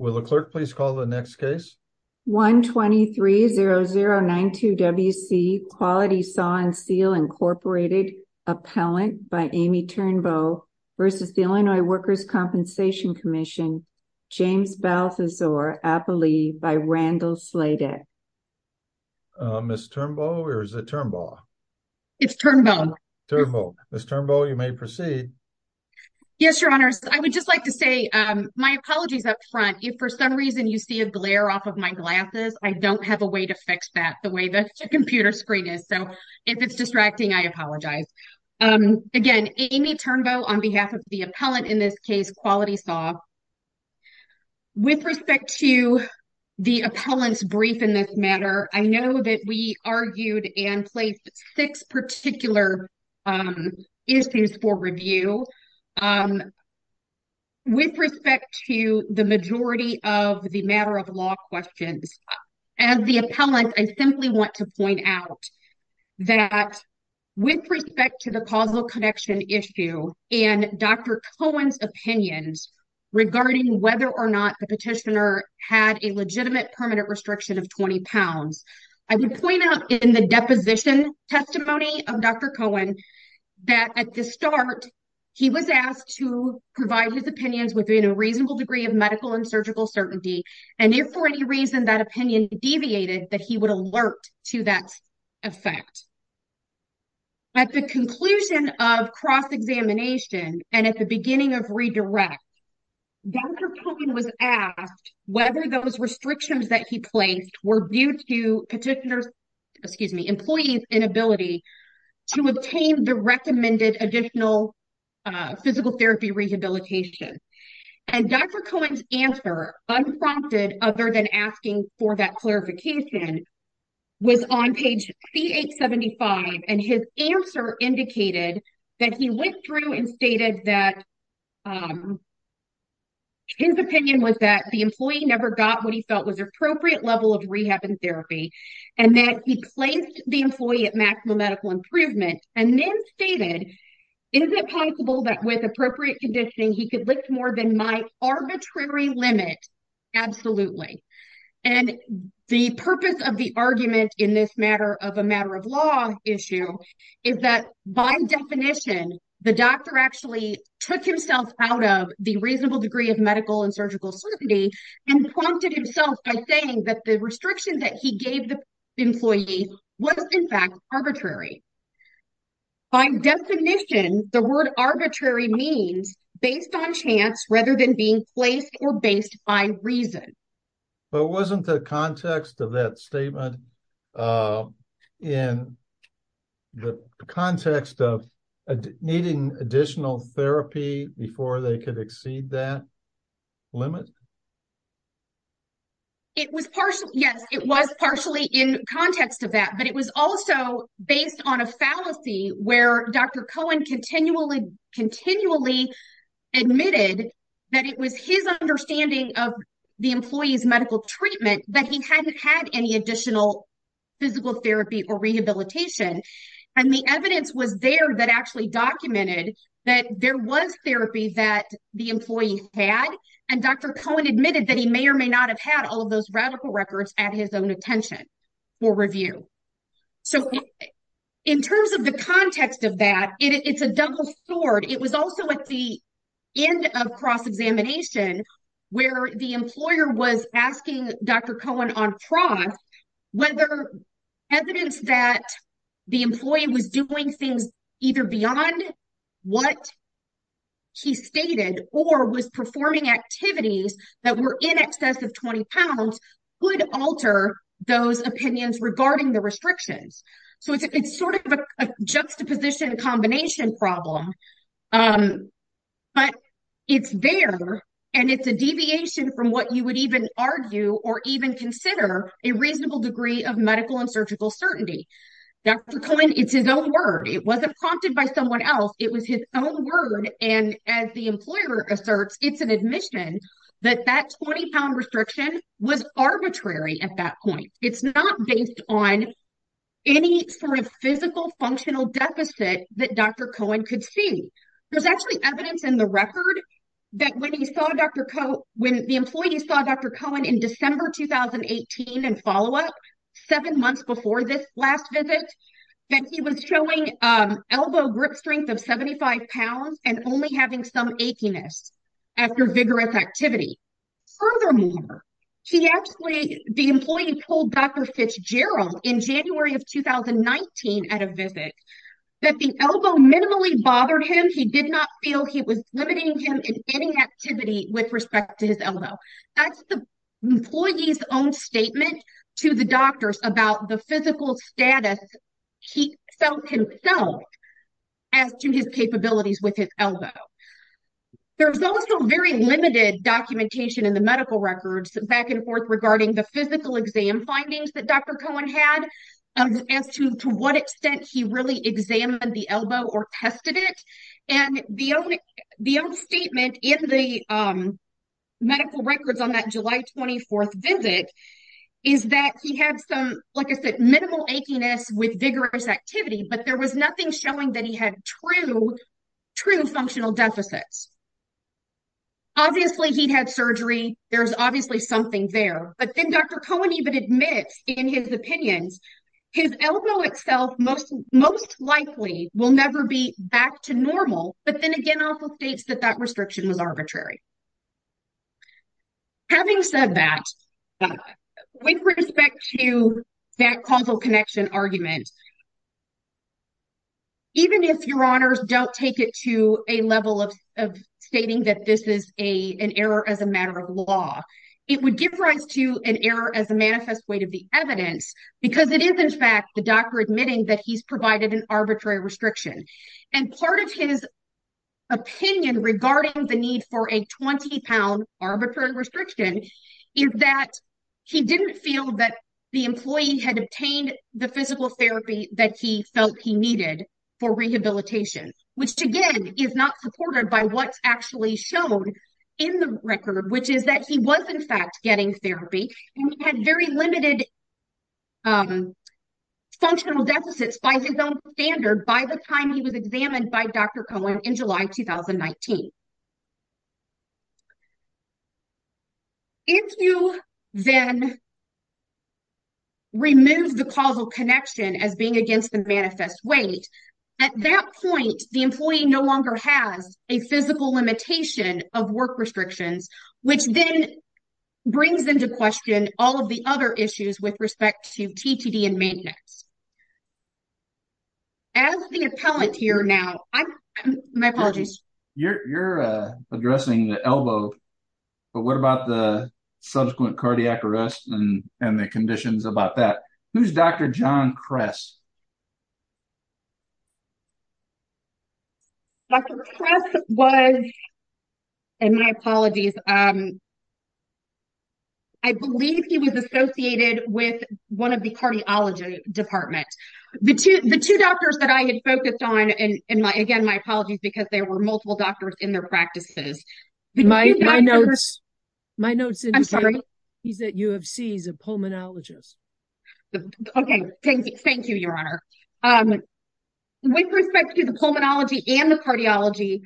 1-23-0092-WC, Quality Saw & Seal, Inc. v. Illinois Workers' Compensation Comm'n, James Balthasore, Appalooie, Randall Sladek If for some reason you see a glare off of my glasses, I don't have a way to fix that the way the computer screen is, so if it's distracting, I apologize. Again, Amy Turnbow on behalf of the appellant in this case, Quality Saw. With respect to the appellant's brief in this matter, I know that we argued and placed six particular issues for review. With respect to the majority of the matter of law questions, as the appellant, I simply want to point out that with respect to the causal connection issue and Dr. Cohen's opinions regarding whether or not the petitioner had a legitimate permanent restriction of 20 pounds, I would point out in the deposition testimony of Dr. Cohen that at the start, he was asked to provide his opinions within a reasonable degree of medical and surgical certainty, and if for any reason that opinion deviated, that he would alert to that effect. At the conclusion of cross-examination and at the beginning of redirect, Dr. Cohen was asked whether those restrictions that he placed were due to petitioner's, excuse me, employee's inability to obtain the recommended additional physical therapy rehabilitation. And Dr. Cohen's answer, unprompted other than asking for that clarification, was on page C875, and his answer indicated that he went through and stated that his opinion was that the employee never got what he felt was appropriate level of rehab and therapy, and that he placed the employee at maximum medical improvement, and then stated, is it possible that with appropriate conditioning, he could lift more than my arbitrary limit? Absolutely. And the purpose of the argument in this matter of a matter of law issue is that by definition, the doctor actually took himself out of the reasonable degree of medical and surgical certainty and prompted himself by saying that the restriction that he gave the employee was, in fact, arbitrary. By definition, the word arbitrary means based on chance rather than being placed or based by reason. But wasn't the context of that statement in the context of needing additional therapy before they could exceed that limit? It was partially, yes, it was partially in context of that, but it was also based on a fallacy where Dr. Cohen continually admitted that it was his understanding of the employee's medical treatment that he hadn't had any additional physical therapy or rehabilitation. And the evidence was there that actually documented that there was therapy that the employee had, and Dr. Cohen admitted that he may or may not have had all of those radical records at his own attention for review. So, in terms of the context of that, it's a double sword. It was also at the end of cross-examination where the employer was asking Dr. Cohen on cross whether evidence that the employee was doing things either beyond what he stated, or was performing activities that were in excess of 20 pounds would alter those opinions regarding the restrictions. So, it's sort of a juxtaposition combination problem, but it's there and it's a deviation from what you would even argue or even consider a reasonable degree of medical and surgical certainty. Dr. Cohen, it's his own word. It wasn't prompted by someone else. It was his own word, and as the employer asserts, it's an admission that that 20-pound restriction was arbitrary at that point. It's not based on any sort of physical functional deficit that Dr. Cohen could see. There's actually evidence in the record that when the employee saw Dr. Cohen in December 2018 in follow-up, 7 months before this last visit, that he was showing elbow grip strength of 75 pounds and only having some achiness after vigorous activity. Furthermore, the employee told Dr. Fitzgerald in January of 2019 at a visit that the elbow minimally bothered him. He did not feel he was limiting him in any activity with respect to his elbow. That's the employee's own statement to the doctors about the physical status he felt himself as to his capabilities with his elbow. There's also very limited documentation in the medical records back and forth regarding the physical exam findings that Dr. Cohen had as to what extent he really examined the elbow or tested it. The own statement in the medical records on that July 24th visit is that he had some, like I said, minimal achiness with vigorous activity, but there was nothing showing that he had true functional deficits. Obviously, he had surgery. There's obviously something there, but then Dr. Cohen even admits in his opinions, his elbow itself most likely will never be back to normal. But then again, also states that that restriction was arbitrary. Having said that, with respect to that causal connection argument, even if your honors don't take it to a level of stating that this is an error as a matter of law, it would give rise to an error as a manifest weight of the evidence because it is, in fact, the doctor admitting that he's provided an arbitrary restriction. Part of his opinion regarding the need for a 20-pound arbitrary restriction is that he didn't feel that the employee had obtained the physical therapy that he felt he needed for rehabilitation, which again is not supported by what's actually shown in the record, which is that he was, in fact, getting therapy. He had very limited functional deficits by his own standard by the time he was examined by Dr. Cohen in July 2019. If you then remove the causal connection as being against the manifest weight, at that point, the employee no longer has a physical limitation of work restrictions, which then brings into question all of the other issues with respect to TTD and maintenance. As the appellate here now, my apologies. You're addressing the elbow, but what about the subsequent cardiac arrest and the conditions about that? Who's Dr. John Kress? Dr. Kress was, and my apologies. I believe he was associated with one of the cardiology department. The two doctors that I had focused on, and again, my apologies, because there were multiple doctors in their practices. My notes indicate he's at U of C. He's a pulmonologist. Okay. Thank you. Thank you, Your Honor. With respect to the pulmonology and the cardiology,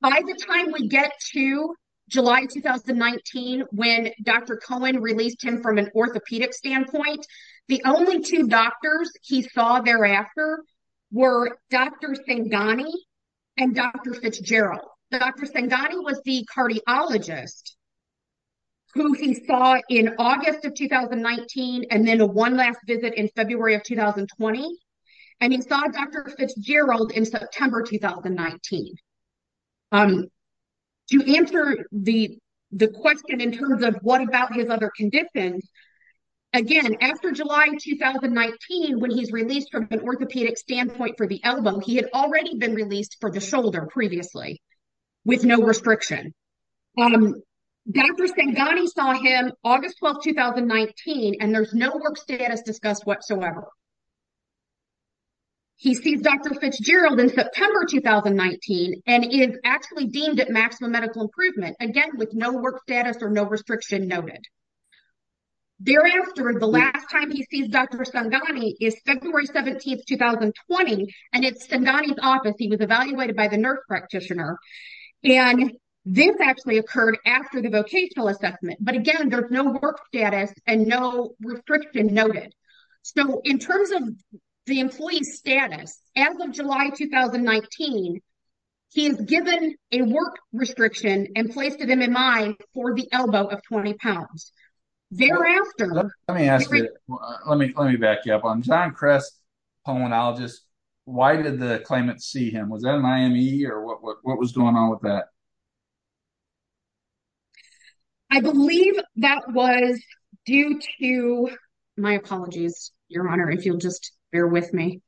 by the time we get to July 2019, when Dr. Cohen released him from an orthopedic standpoint, the only two doctors he saw thereafter were Dr. Sangani and Dr. Fitzgerald. Dr. Sangani was the cardiologist who he saw in August of 2019 and then one last visit in February of 2020, and he saw Dr. Fitzgerald in September 2019. To answer the question in terms of what about his other conditions, again, after July 2019, when he's released from an orthopedic standpoint for the elbow, he had already been released for the shoulder previously. With no restriction. Dr. Sangani saw him August 12, 2019, and there's no work status discussed whatsoever. He sees Dr. Fitzgerald in September 2019, and is actually deemed at maximum medical improvement. Again, with no work status or no restriction noted. Thereafter, the last time he sees Dr. Sangani is February 17, 2020, and it's Sangani's office. He was evaluated by the nurse practitioner, and this actually occurred after the vocational assessment. But again, there's no work status and no restriction noted. So, in terms of the employee status, as of July 2019, he's given a work restriction and placed an MMI for the elbow of 20 pounds. Thereafter. Let me ask you. Let me back you up. I'm John Kress, pulmonologist. Why did the claimant see him? Was that an IME or what was going on with that? I believe that was due to my apologies. Your Honor, if you'll just bear with me.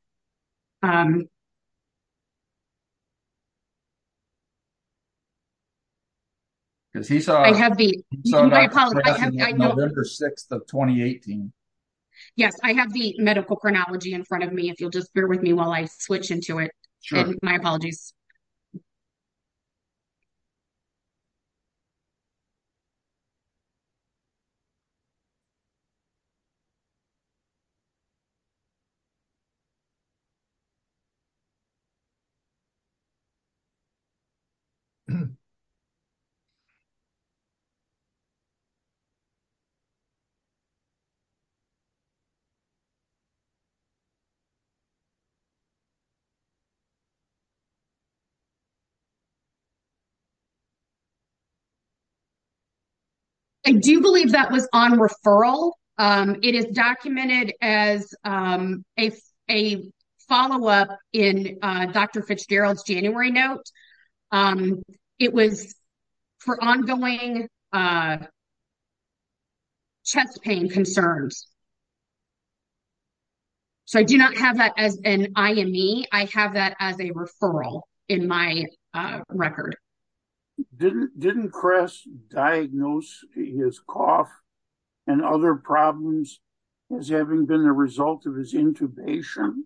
Because he saw I have the November 6th of 2018. Yes, I have the medical chronology in front of me. If you'll just bear with me while I switch into it. My apologies. Okay. I do believe that was on referral. It is documented as a follow-up in Dr. Fitzgerald's January note. It was for ongoing chest pain concerns. So, I do not have that as an IME. I have that as a referral in my record. Didn't Kress diagnose his cough and other problems as having been the result of his intubation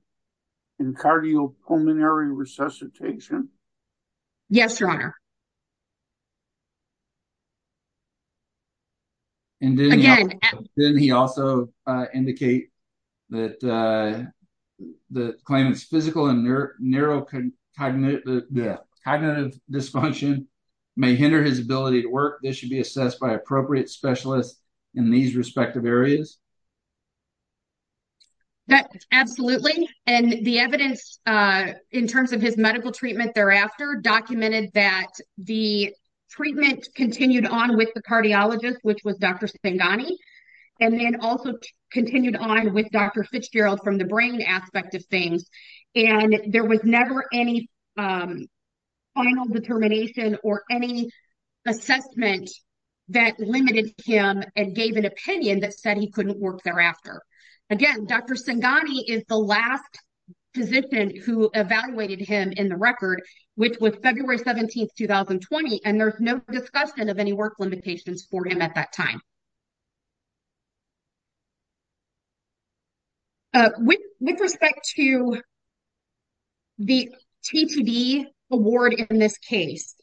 and cardiopulmonary resuscitation? I do not have that as an IME. I have that as a referral in my record. Didn't he also indicate that the claimant's physical and neurocognitive dysfunction may hinder his ability to work? This should be assessed by appropriate specialists in these respective areas? Absolutely. And the evidence in terms of his medical treatment thereafter documented that the treatment continued on with the cardiologist, which was Dr. Senghani, and then also continued on with Dr. Fitzgerald from the brain aspect of things. And there was never any final determination or any assessment that limited him and gave an opinion that said he couldn't work thereafter. Again, Dr. Senghani is the last physician who evaluated him in the record, which was February 17, 2020, and there's no discussion of any work limitations for him at that time. With respect to the TTD award in this case,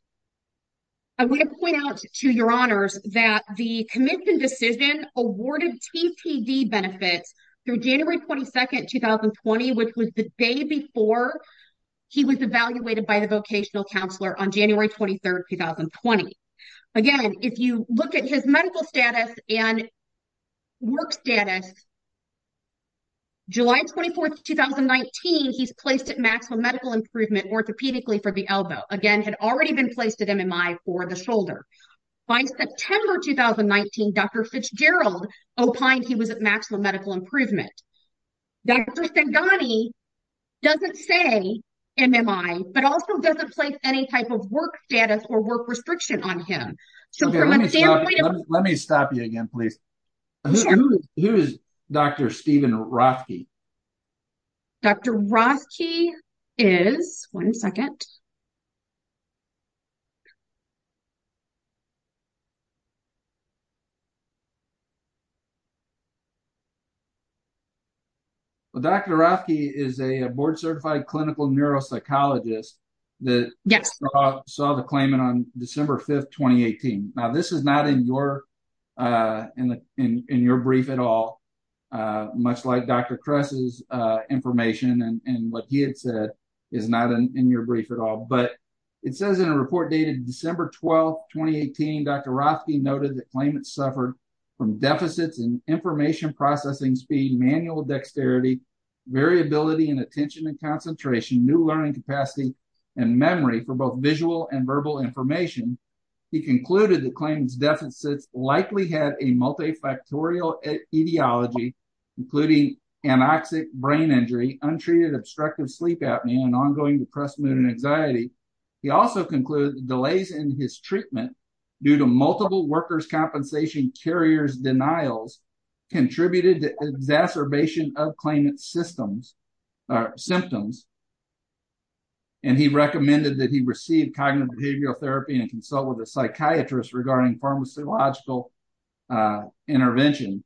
I want to point out to your honors that the commission decision awarded TTD benefits through January 22, 2020, which was the day before he was evaluated by the vocational counselor on January 23, 2020. Again, if you look at his medical status and work status, July 24, 2019, he's placed at maximum medical improvement orthopedically for the elbow. Again, had already been placed at MMI for the shoulder. By September 2019, Dr. Fitzgerald opined he was at maximum medical improvement. Dr. Senghani doesn't say MMI, but also doesn't place any type of work status or work restriction on him. Let me stop you again, please. Who is Dr. Stephen Rothke? Dr. Rothke is, one second. Dr. Rothke is a board-certified clinical neuropsychologist that saw the claimant on December 5, 2018. Now, this is not in your brief at all, much like Dr. Kress's information and what he had said is not in your brief at all, but it says in a report dated December 12, 2018, Dr. Rothke noted the claimant suffered from deficits in information processing speed, manual dexterity, variability in attention and concentration, new learning capacity, and memory for both visual and verbal information. He concluded the claimant's deficits likely had a multifactorial etiology, including anoxic brain injury, untreated obstructive sleep apnea, and ongoing depressed mood and anxiety. He also concluded delays in his treatment due to multiple workers' compensation carriers' denials contributed to exacerbation of claimant's symptoms. And he recommended that he receive cognitive behavioral therapy and consult with a psychiatrist regarding pharmacological intervention.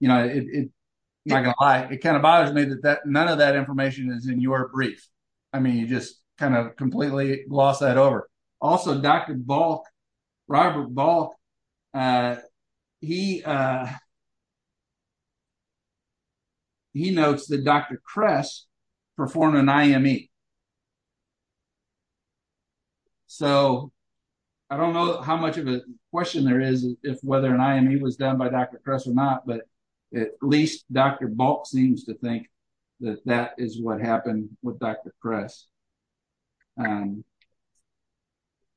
You know, it kind of bothers me that none of that information is in your brief. I mean, you just kind of completely glossed that over. Also, Dr. Balk, Robert Balk, he notes that Dr. Kress performed an IME. So, I don't know how much of a question there is if whether an IME was done by Dr. Kress or not, but at least Dr. Balk seems to think that that is what happened with Dr. Kress.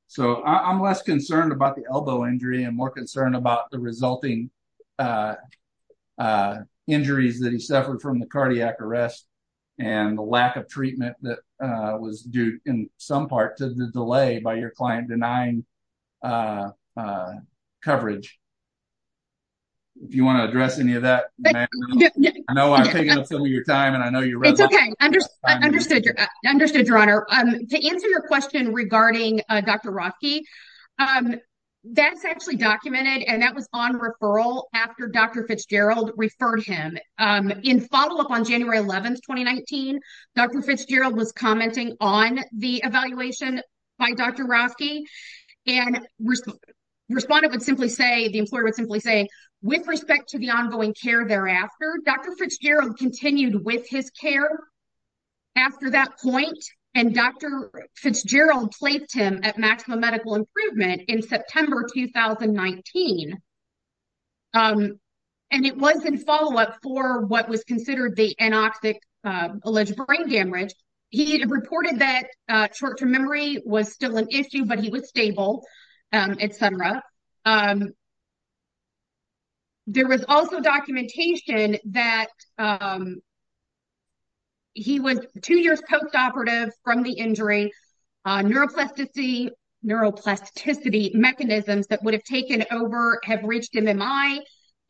So, I'm less concerned about the elbow injury and more concerned about the resulting injuries that he suffered from the cardiac arrest and the lack of treatment that was due, in some part, to the delay by your client denying coverage. If you want to address any of that, I know I'm taking up some of your time and I know you're running out of time. Understood, Your Honor. To answer your question regarding Dr. Rothke, that's actually documented and that was on referral after Dr. Fitzgerald referred him. In follow-up on January 11, 2019, Dr. Fitzgerald was commenting on the evaluation by Dr. Rothke and the employer would simply say, with respect to the ongoing care thereafter, Dr. Fitzgerald continued with his care after that point, and Dr. Fitzgerald placed him at maximum medical improvement in September 2019. And it was in follow-up for what was considered the anoxic alleged brain damage. He reported that short-term memory was still an issue, but he was stable, etc. There was also documentation that he was two years post-operative from the injury. Neuroplasticity mechanisms that would have taken over have reached MMI,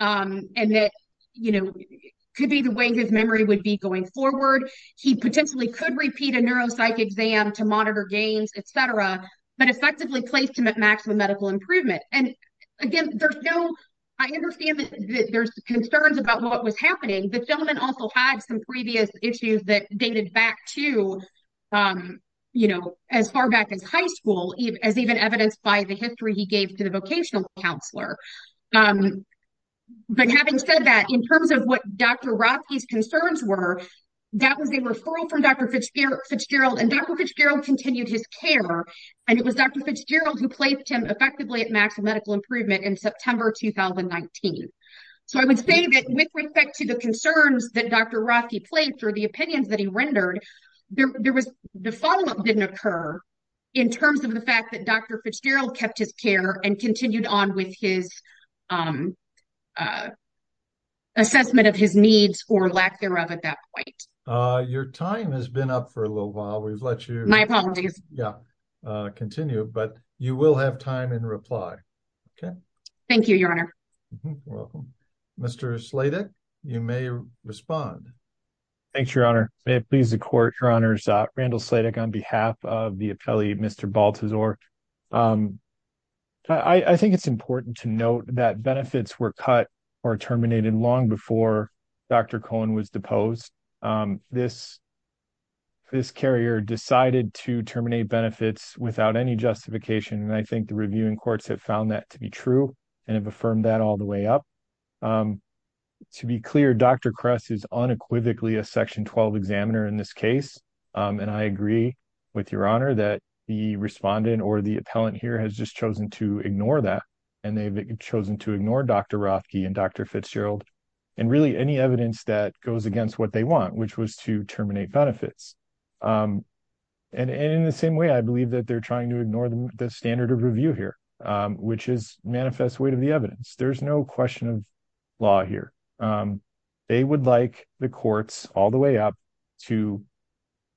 and that could be the way his memory would be going forward. He potentially could repeat a neuropsych exam to monitor gains, etc., but effectively placed him at maximum medical improvement. Again, I understand that there's concerns about what was happening. The gentleman also had some previous issues that dated back to as far back as high school, as even evidenced by the history he gave to the vocational counselor. Having said that, in terms of what Dr. Rothke's concerns were, that was a referral from Dr. Fitzgerald, and Dr. Fitzgerald continued his care, and it was Dr. Fitzgerald who placed him effectively at maximum medical improvement in September 2019. So I would say that with respect to the concerns that Dr. Rothke placed or the opinions that he rendered, the follow-up didn't occur in terms of the fact that Dr. Fitzgerald kept his care and continued on with his assessment of his needs or lack thereof at that point. Your time has been up for a little while. We've let you continue, but you will have time in reply. Thank you, Your Honor. Mr. Sladek, you may respond. Thanks, Your Honor. May it please the Court, Your Honors. Randall Sladek on behalf of the appellee, Mr. Baltazar. I think it's important to note that benefits were cut or terminated long before Dr. Cohen was deposed. This carrier decided to terminate benefits without any justification, and I think the reviewing courts have found that to be true and have affirmed that all the way up. To be clear, Dr. Kress is unequivocally a Section 12 examiner in this case, and I agree with Your Honor that the respondent or the appellant here has just chosen to ignore that, and they've chosen to ignore Dr. Rothke and Dr. Fitzgerald and really any evidence that goes against what they want, which was to terminate benefits. And in the same way, I believe that they're trying to ignore the standard of review here, which is manifest weight of the evidence. There's no question of law here. They would like the courts all the way up to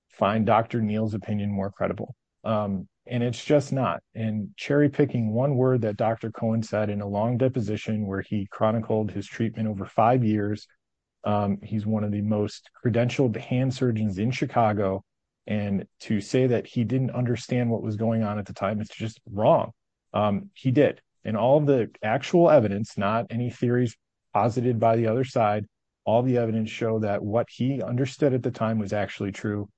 find Dr. Neal's opinion more credible, and it's just not. And cherry-picking one word that Dr. Cohen said in a long deposition where he chronicled his treatment over five years, he's one of the most credentialed hand surgeons in Chicago, and to say that he didn't understand what was going on at the time is just wrong. He did. And all of the actual evidence, not any theories posited by the other side, all the evidence show that what he understood at the time was actually true.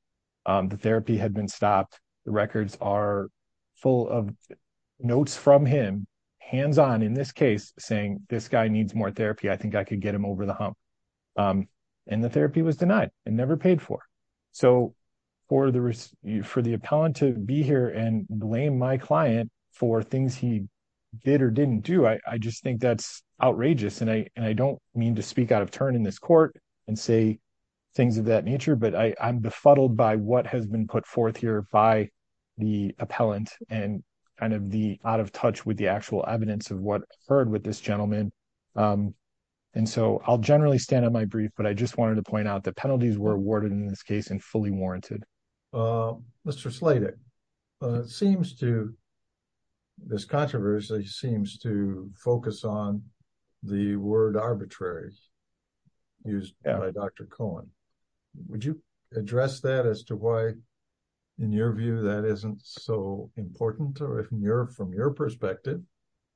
The therapy had been stopped. The records are full of notes from him, hands-on in this case, saying, this guy needs more therapy. I think I could get him over the hump. And the therapy was denied and never paid for. So for the appellant to be here and blame my client for things he did or didn't do, I just think that's outrageous. And I don't mean to speak out of turn in this court and say things of that nature, but I'm befuddled by what has been put forth here by the appellant and kind of the out of touch with the actual evidence of what occurred with this gentleman. And so I'll generally stand on my brief, but I just wanted to point out the penalties were awarded in this case and fully warranted. Mr. Sladek, this controversy seems to focus on the word arbitrary used by Dr. Cohen. Would you address that as to why, in your view, that isn't so important from your perspective?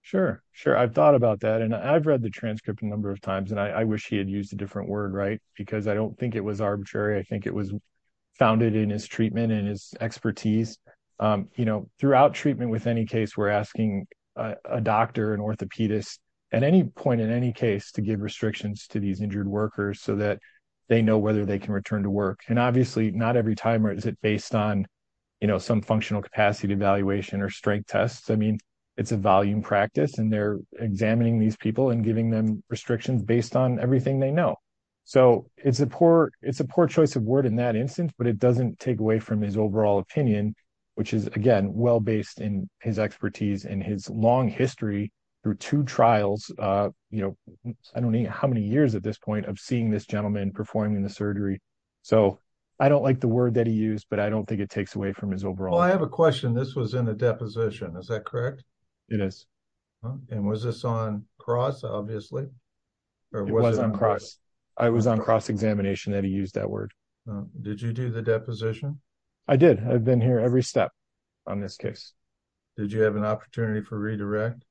Sure, sure. I've thought about that and I've read the transcript a number of times and I wish he had used a different word, right? Because I don't think it was arbitrary. I think it was founded in his treatment and his expertise. You know, throughout treatment with any case, we're asking a doctor, an orthopedist at any point, in any case, to give restrictions to these injured workers so that they know whether they can return to work. And obviously not every time is it based on some functional capacity evaluation or strength tests. I mean, it's a volume practice and they're examining these people and giving them restrictions based on everything they know. So it's a poor it's a poor choice of word in that instance, but it doesn't take away from his overall opinion, which is, again, well based in his expertise and his long history through two trials. You know, I don't know how many years at this point of seeing this gentleman performing the surgery. So I don't like the word that he used, but I don't think it takes away from his overall. Well, I have a question. This was in a deposition, is that correct? It is. And was this on cross, obviously? It was on cross. I was on cross examination that he used that word. Did you do the deposition? I did. I've been here every step on this case. Did you have an opportunity for redirect?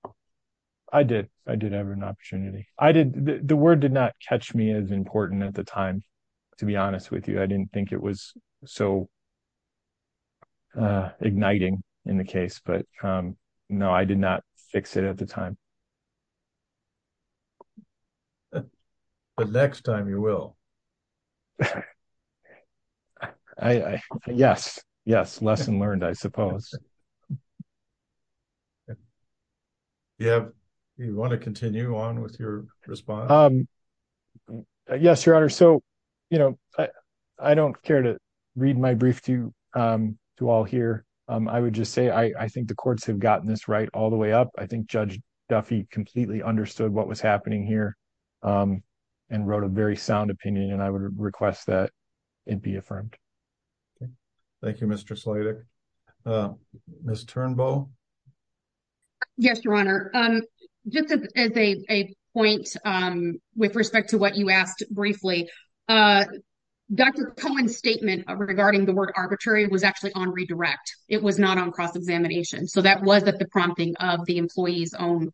I did. I did have an opportunity. I did. The word did not catch me as important at the time, to be honest with you. I didn't think it was so igniting in the case, but no, I did not fix it at the time. The next time you will. Yes. Yes. Lesson learned, I suppose. You want to continue on with your response? Yes, Your Honor. So, you know, I don't care to read my brief to you to all here. I would just say I think the courts have gotten this right all the way up. I think Judge Duffy completely understood what was happening here and wrote a very sound opinion. And I would request that it be affirmed. Thank you, Mr. Slater. Miss Turnbull. Yes, Your Honor. Just as a point with respect to what you asked briefly, Dr. Cohen's statement regarding the word arbitrary was actually on redirect. It was not on cross-examination. So that was the prompting of the employee's own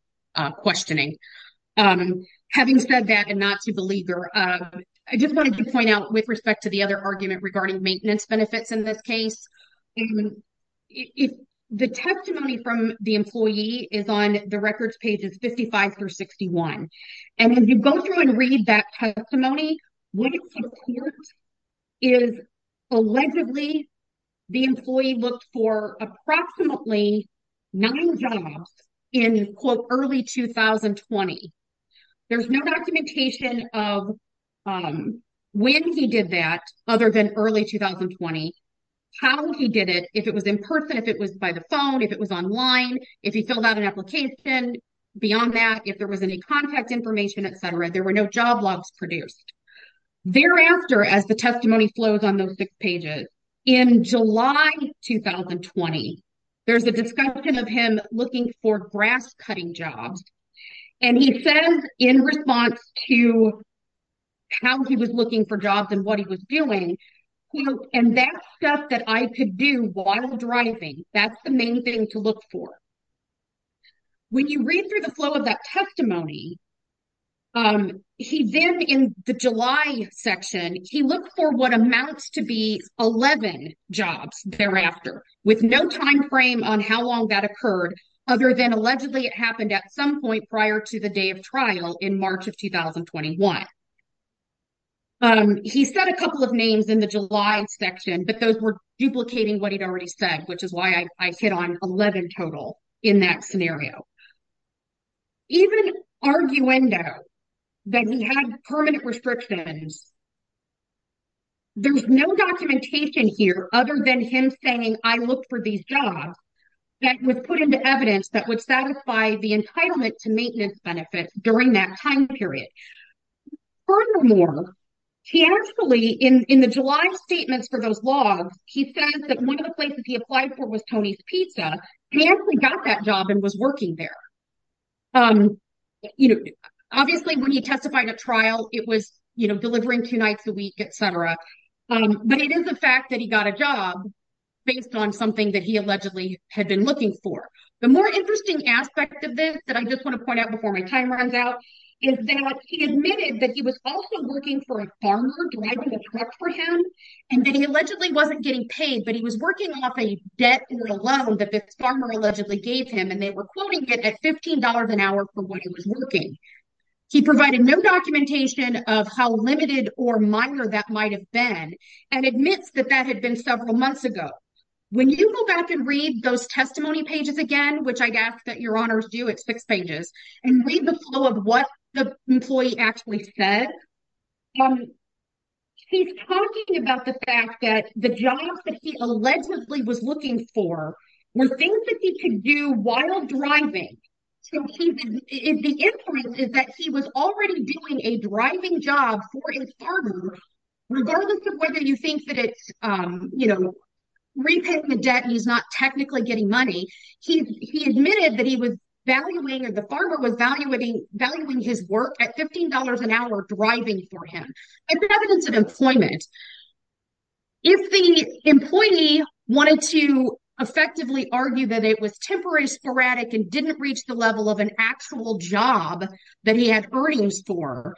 questioning. Having said that and not to belabor, I just wanted to point out with respect to the other argument regarding maintenance benefits in this case. The testimony from the employee is on the records pages 55 through 61. And if you go through and read that testimony, what it supports is allegedly the employee looked for approximately nine jobs in quote early 2020. There's no documentation of when he did that other than early 2020. How he did it, if it was in person, if it was by the phone, if it was online, if he filled out an application. Beyond that, if there was any contact information, et cetera, there were no job logs produced. Thereafter, as the testimony flows on those six pages in July 2020, there's a discussion of him looking for grass cutting jobs. And he says in response to how he was looking for jobs and what he was doing, quote, and that stuff that I could do while driving, that's the main thing to look for. When you read through the flow of that testimony, he then in the July section, he looked for what amounts to be 11 jobs thereafter. With no timeframe on how long that occurred, other than allegedly it happened at some point prior to the day of trial in March of 2021. He said a couple of names in the July section, but those were duplicating what he'd already said, which is why I hit on 11 total in that scenario. Even arguendo, that he had permanent restrictions, there's no documentation here other than him saying, I looked for these jobs. That was put into evidence that would satisfy the entitlement to maintenance benefits during that time period. Furthermore, he actually, in the July statements for those logs, he said that one of the places he applied for was Tony's Pizza. He actually got that job and was working there. Obviously, when he testified at trial, it was delivering two nights a week, et cetera. But it is a fact that he got a job based on something that he allegedly had been looking for. The more interesting aspect of this that I just want to point out before my time runs out, is that he admitted that he was also working for a farmer driving a truck for him. And that he allegedly wasn't getting paid, but he was working off a debt or a loan that this farmer allegedly gave him. And they were quoting it at $15 an hour for what he was working. He provided no documentation of how limited or minor that might have been, and admits that that had been several months ago. When you go back and read those testimony pages again, which I'd ask that your honors do at six pages, and read the flow of what the employee actually said, he's talking about the fact that the jobs that he allegedly was looking for were things that he could do while driving. So the inference is that he was already doing a driving job for his farmer, regardless of whether you think that it's repaying the debt and he's not technically getting money. He admitted that he was valuing, or the farmer was valuing his work at $15 an hour driving for him. It's evidence of employment. If the employee wanted to effectively argue that it was temporary sporadic and didn't reach the level of an actual job that he had earnings for,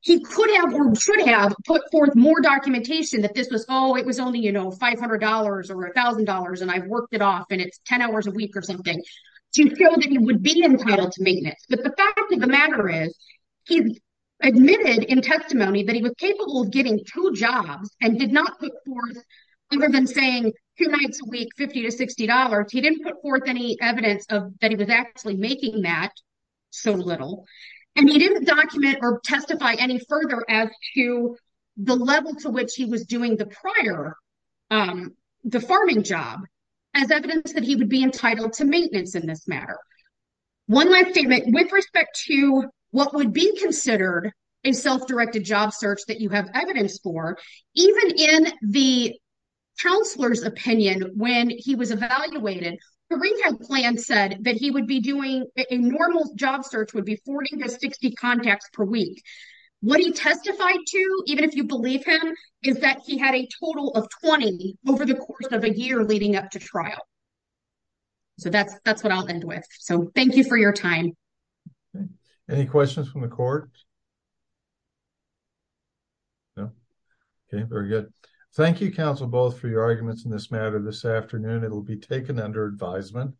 he could have or should have put forth more documentation that this was, oh, it was only, you know, $500 or $1,000 and I worked it off and it's 10 hours a week or something, to show that he would be entitled to maintenance. But the fact of the matter is, he admitted in testimony that he was capable of getting two jobs and did not put forth, other than saying two nights a week, $50 to $60, he didn't put forth any evidence that he was actually making that, so little, and he didn't document or testify any further as to the level to which he was doing the prior, the farming job, as evidence that he would be entitled to maintenance in this matter. One last statement with respect to what would be considered a self-directed job search that you have evidence for, even in the counselor's opinion, when he was evaluated, the retail plan said that he would be doing a normal job search would be 40 to 60 contacts per week. What he testified to, even if you believe him, is that he had a total of 20 over the course of a year leading up to trial. So that's, that's what I'll end with. So thank you for your time. Any questions from the court? No. Okay, very good. Thank you, counsel, both for your arguments in this matter this afternoon, it will be taken under advisement.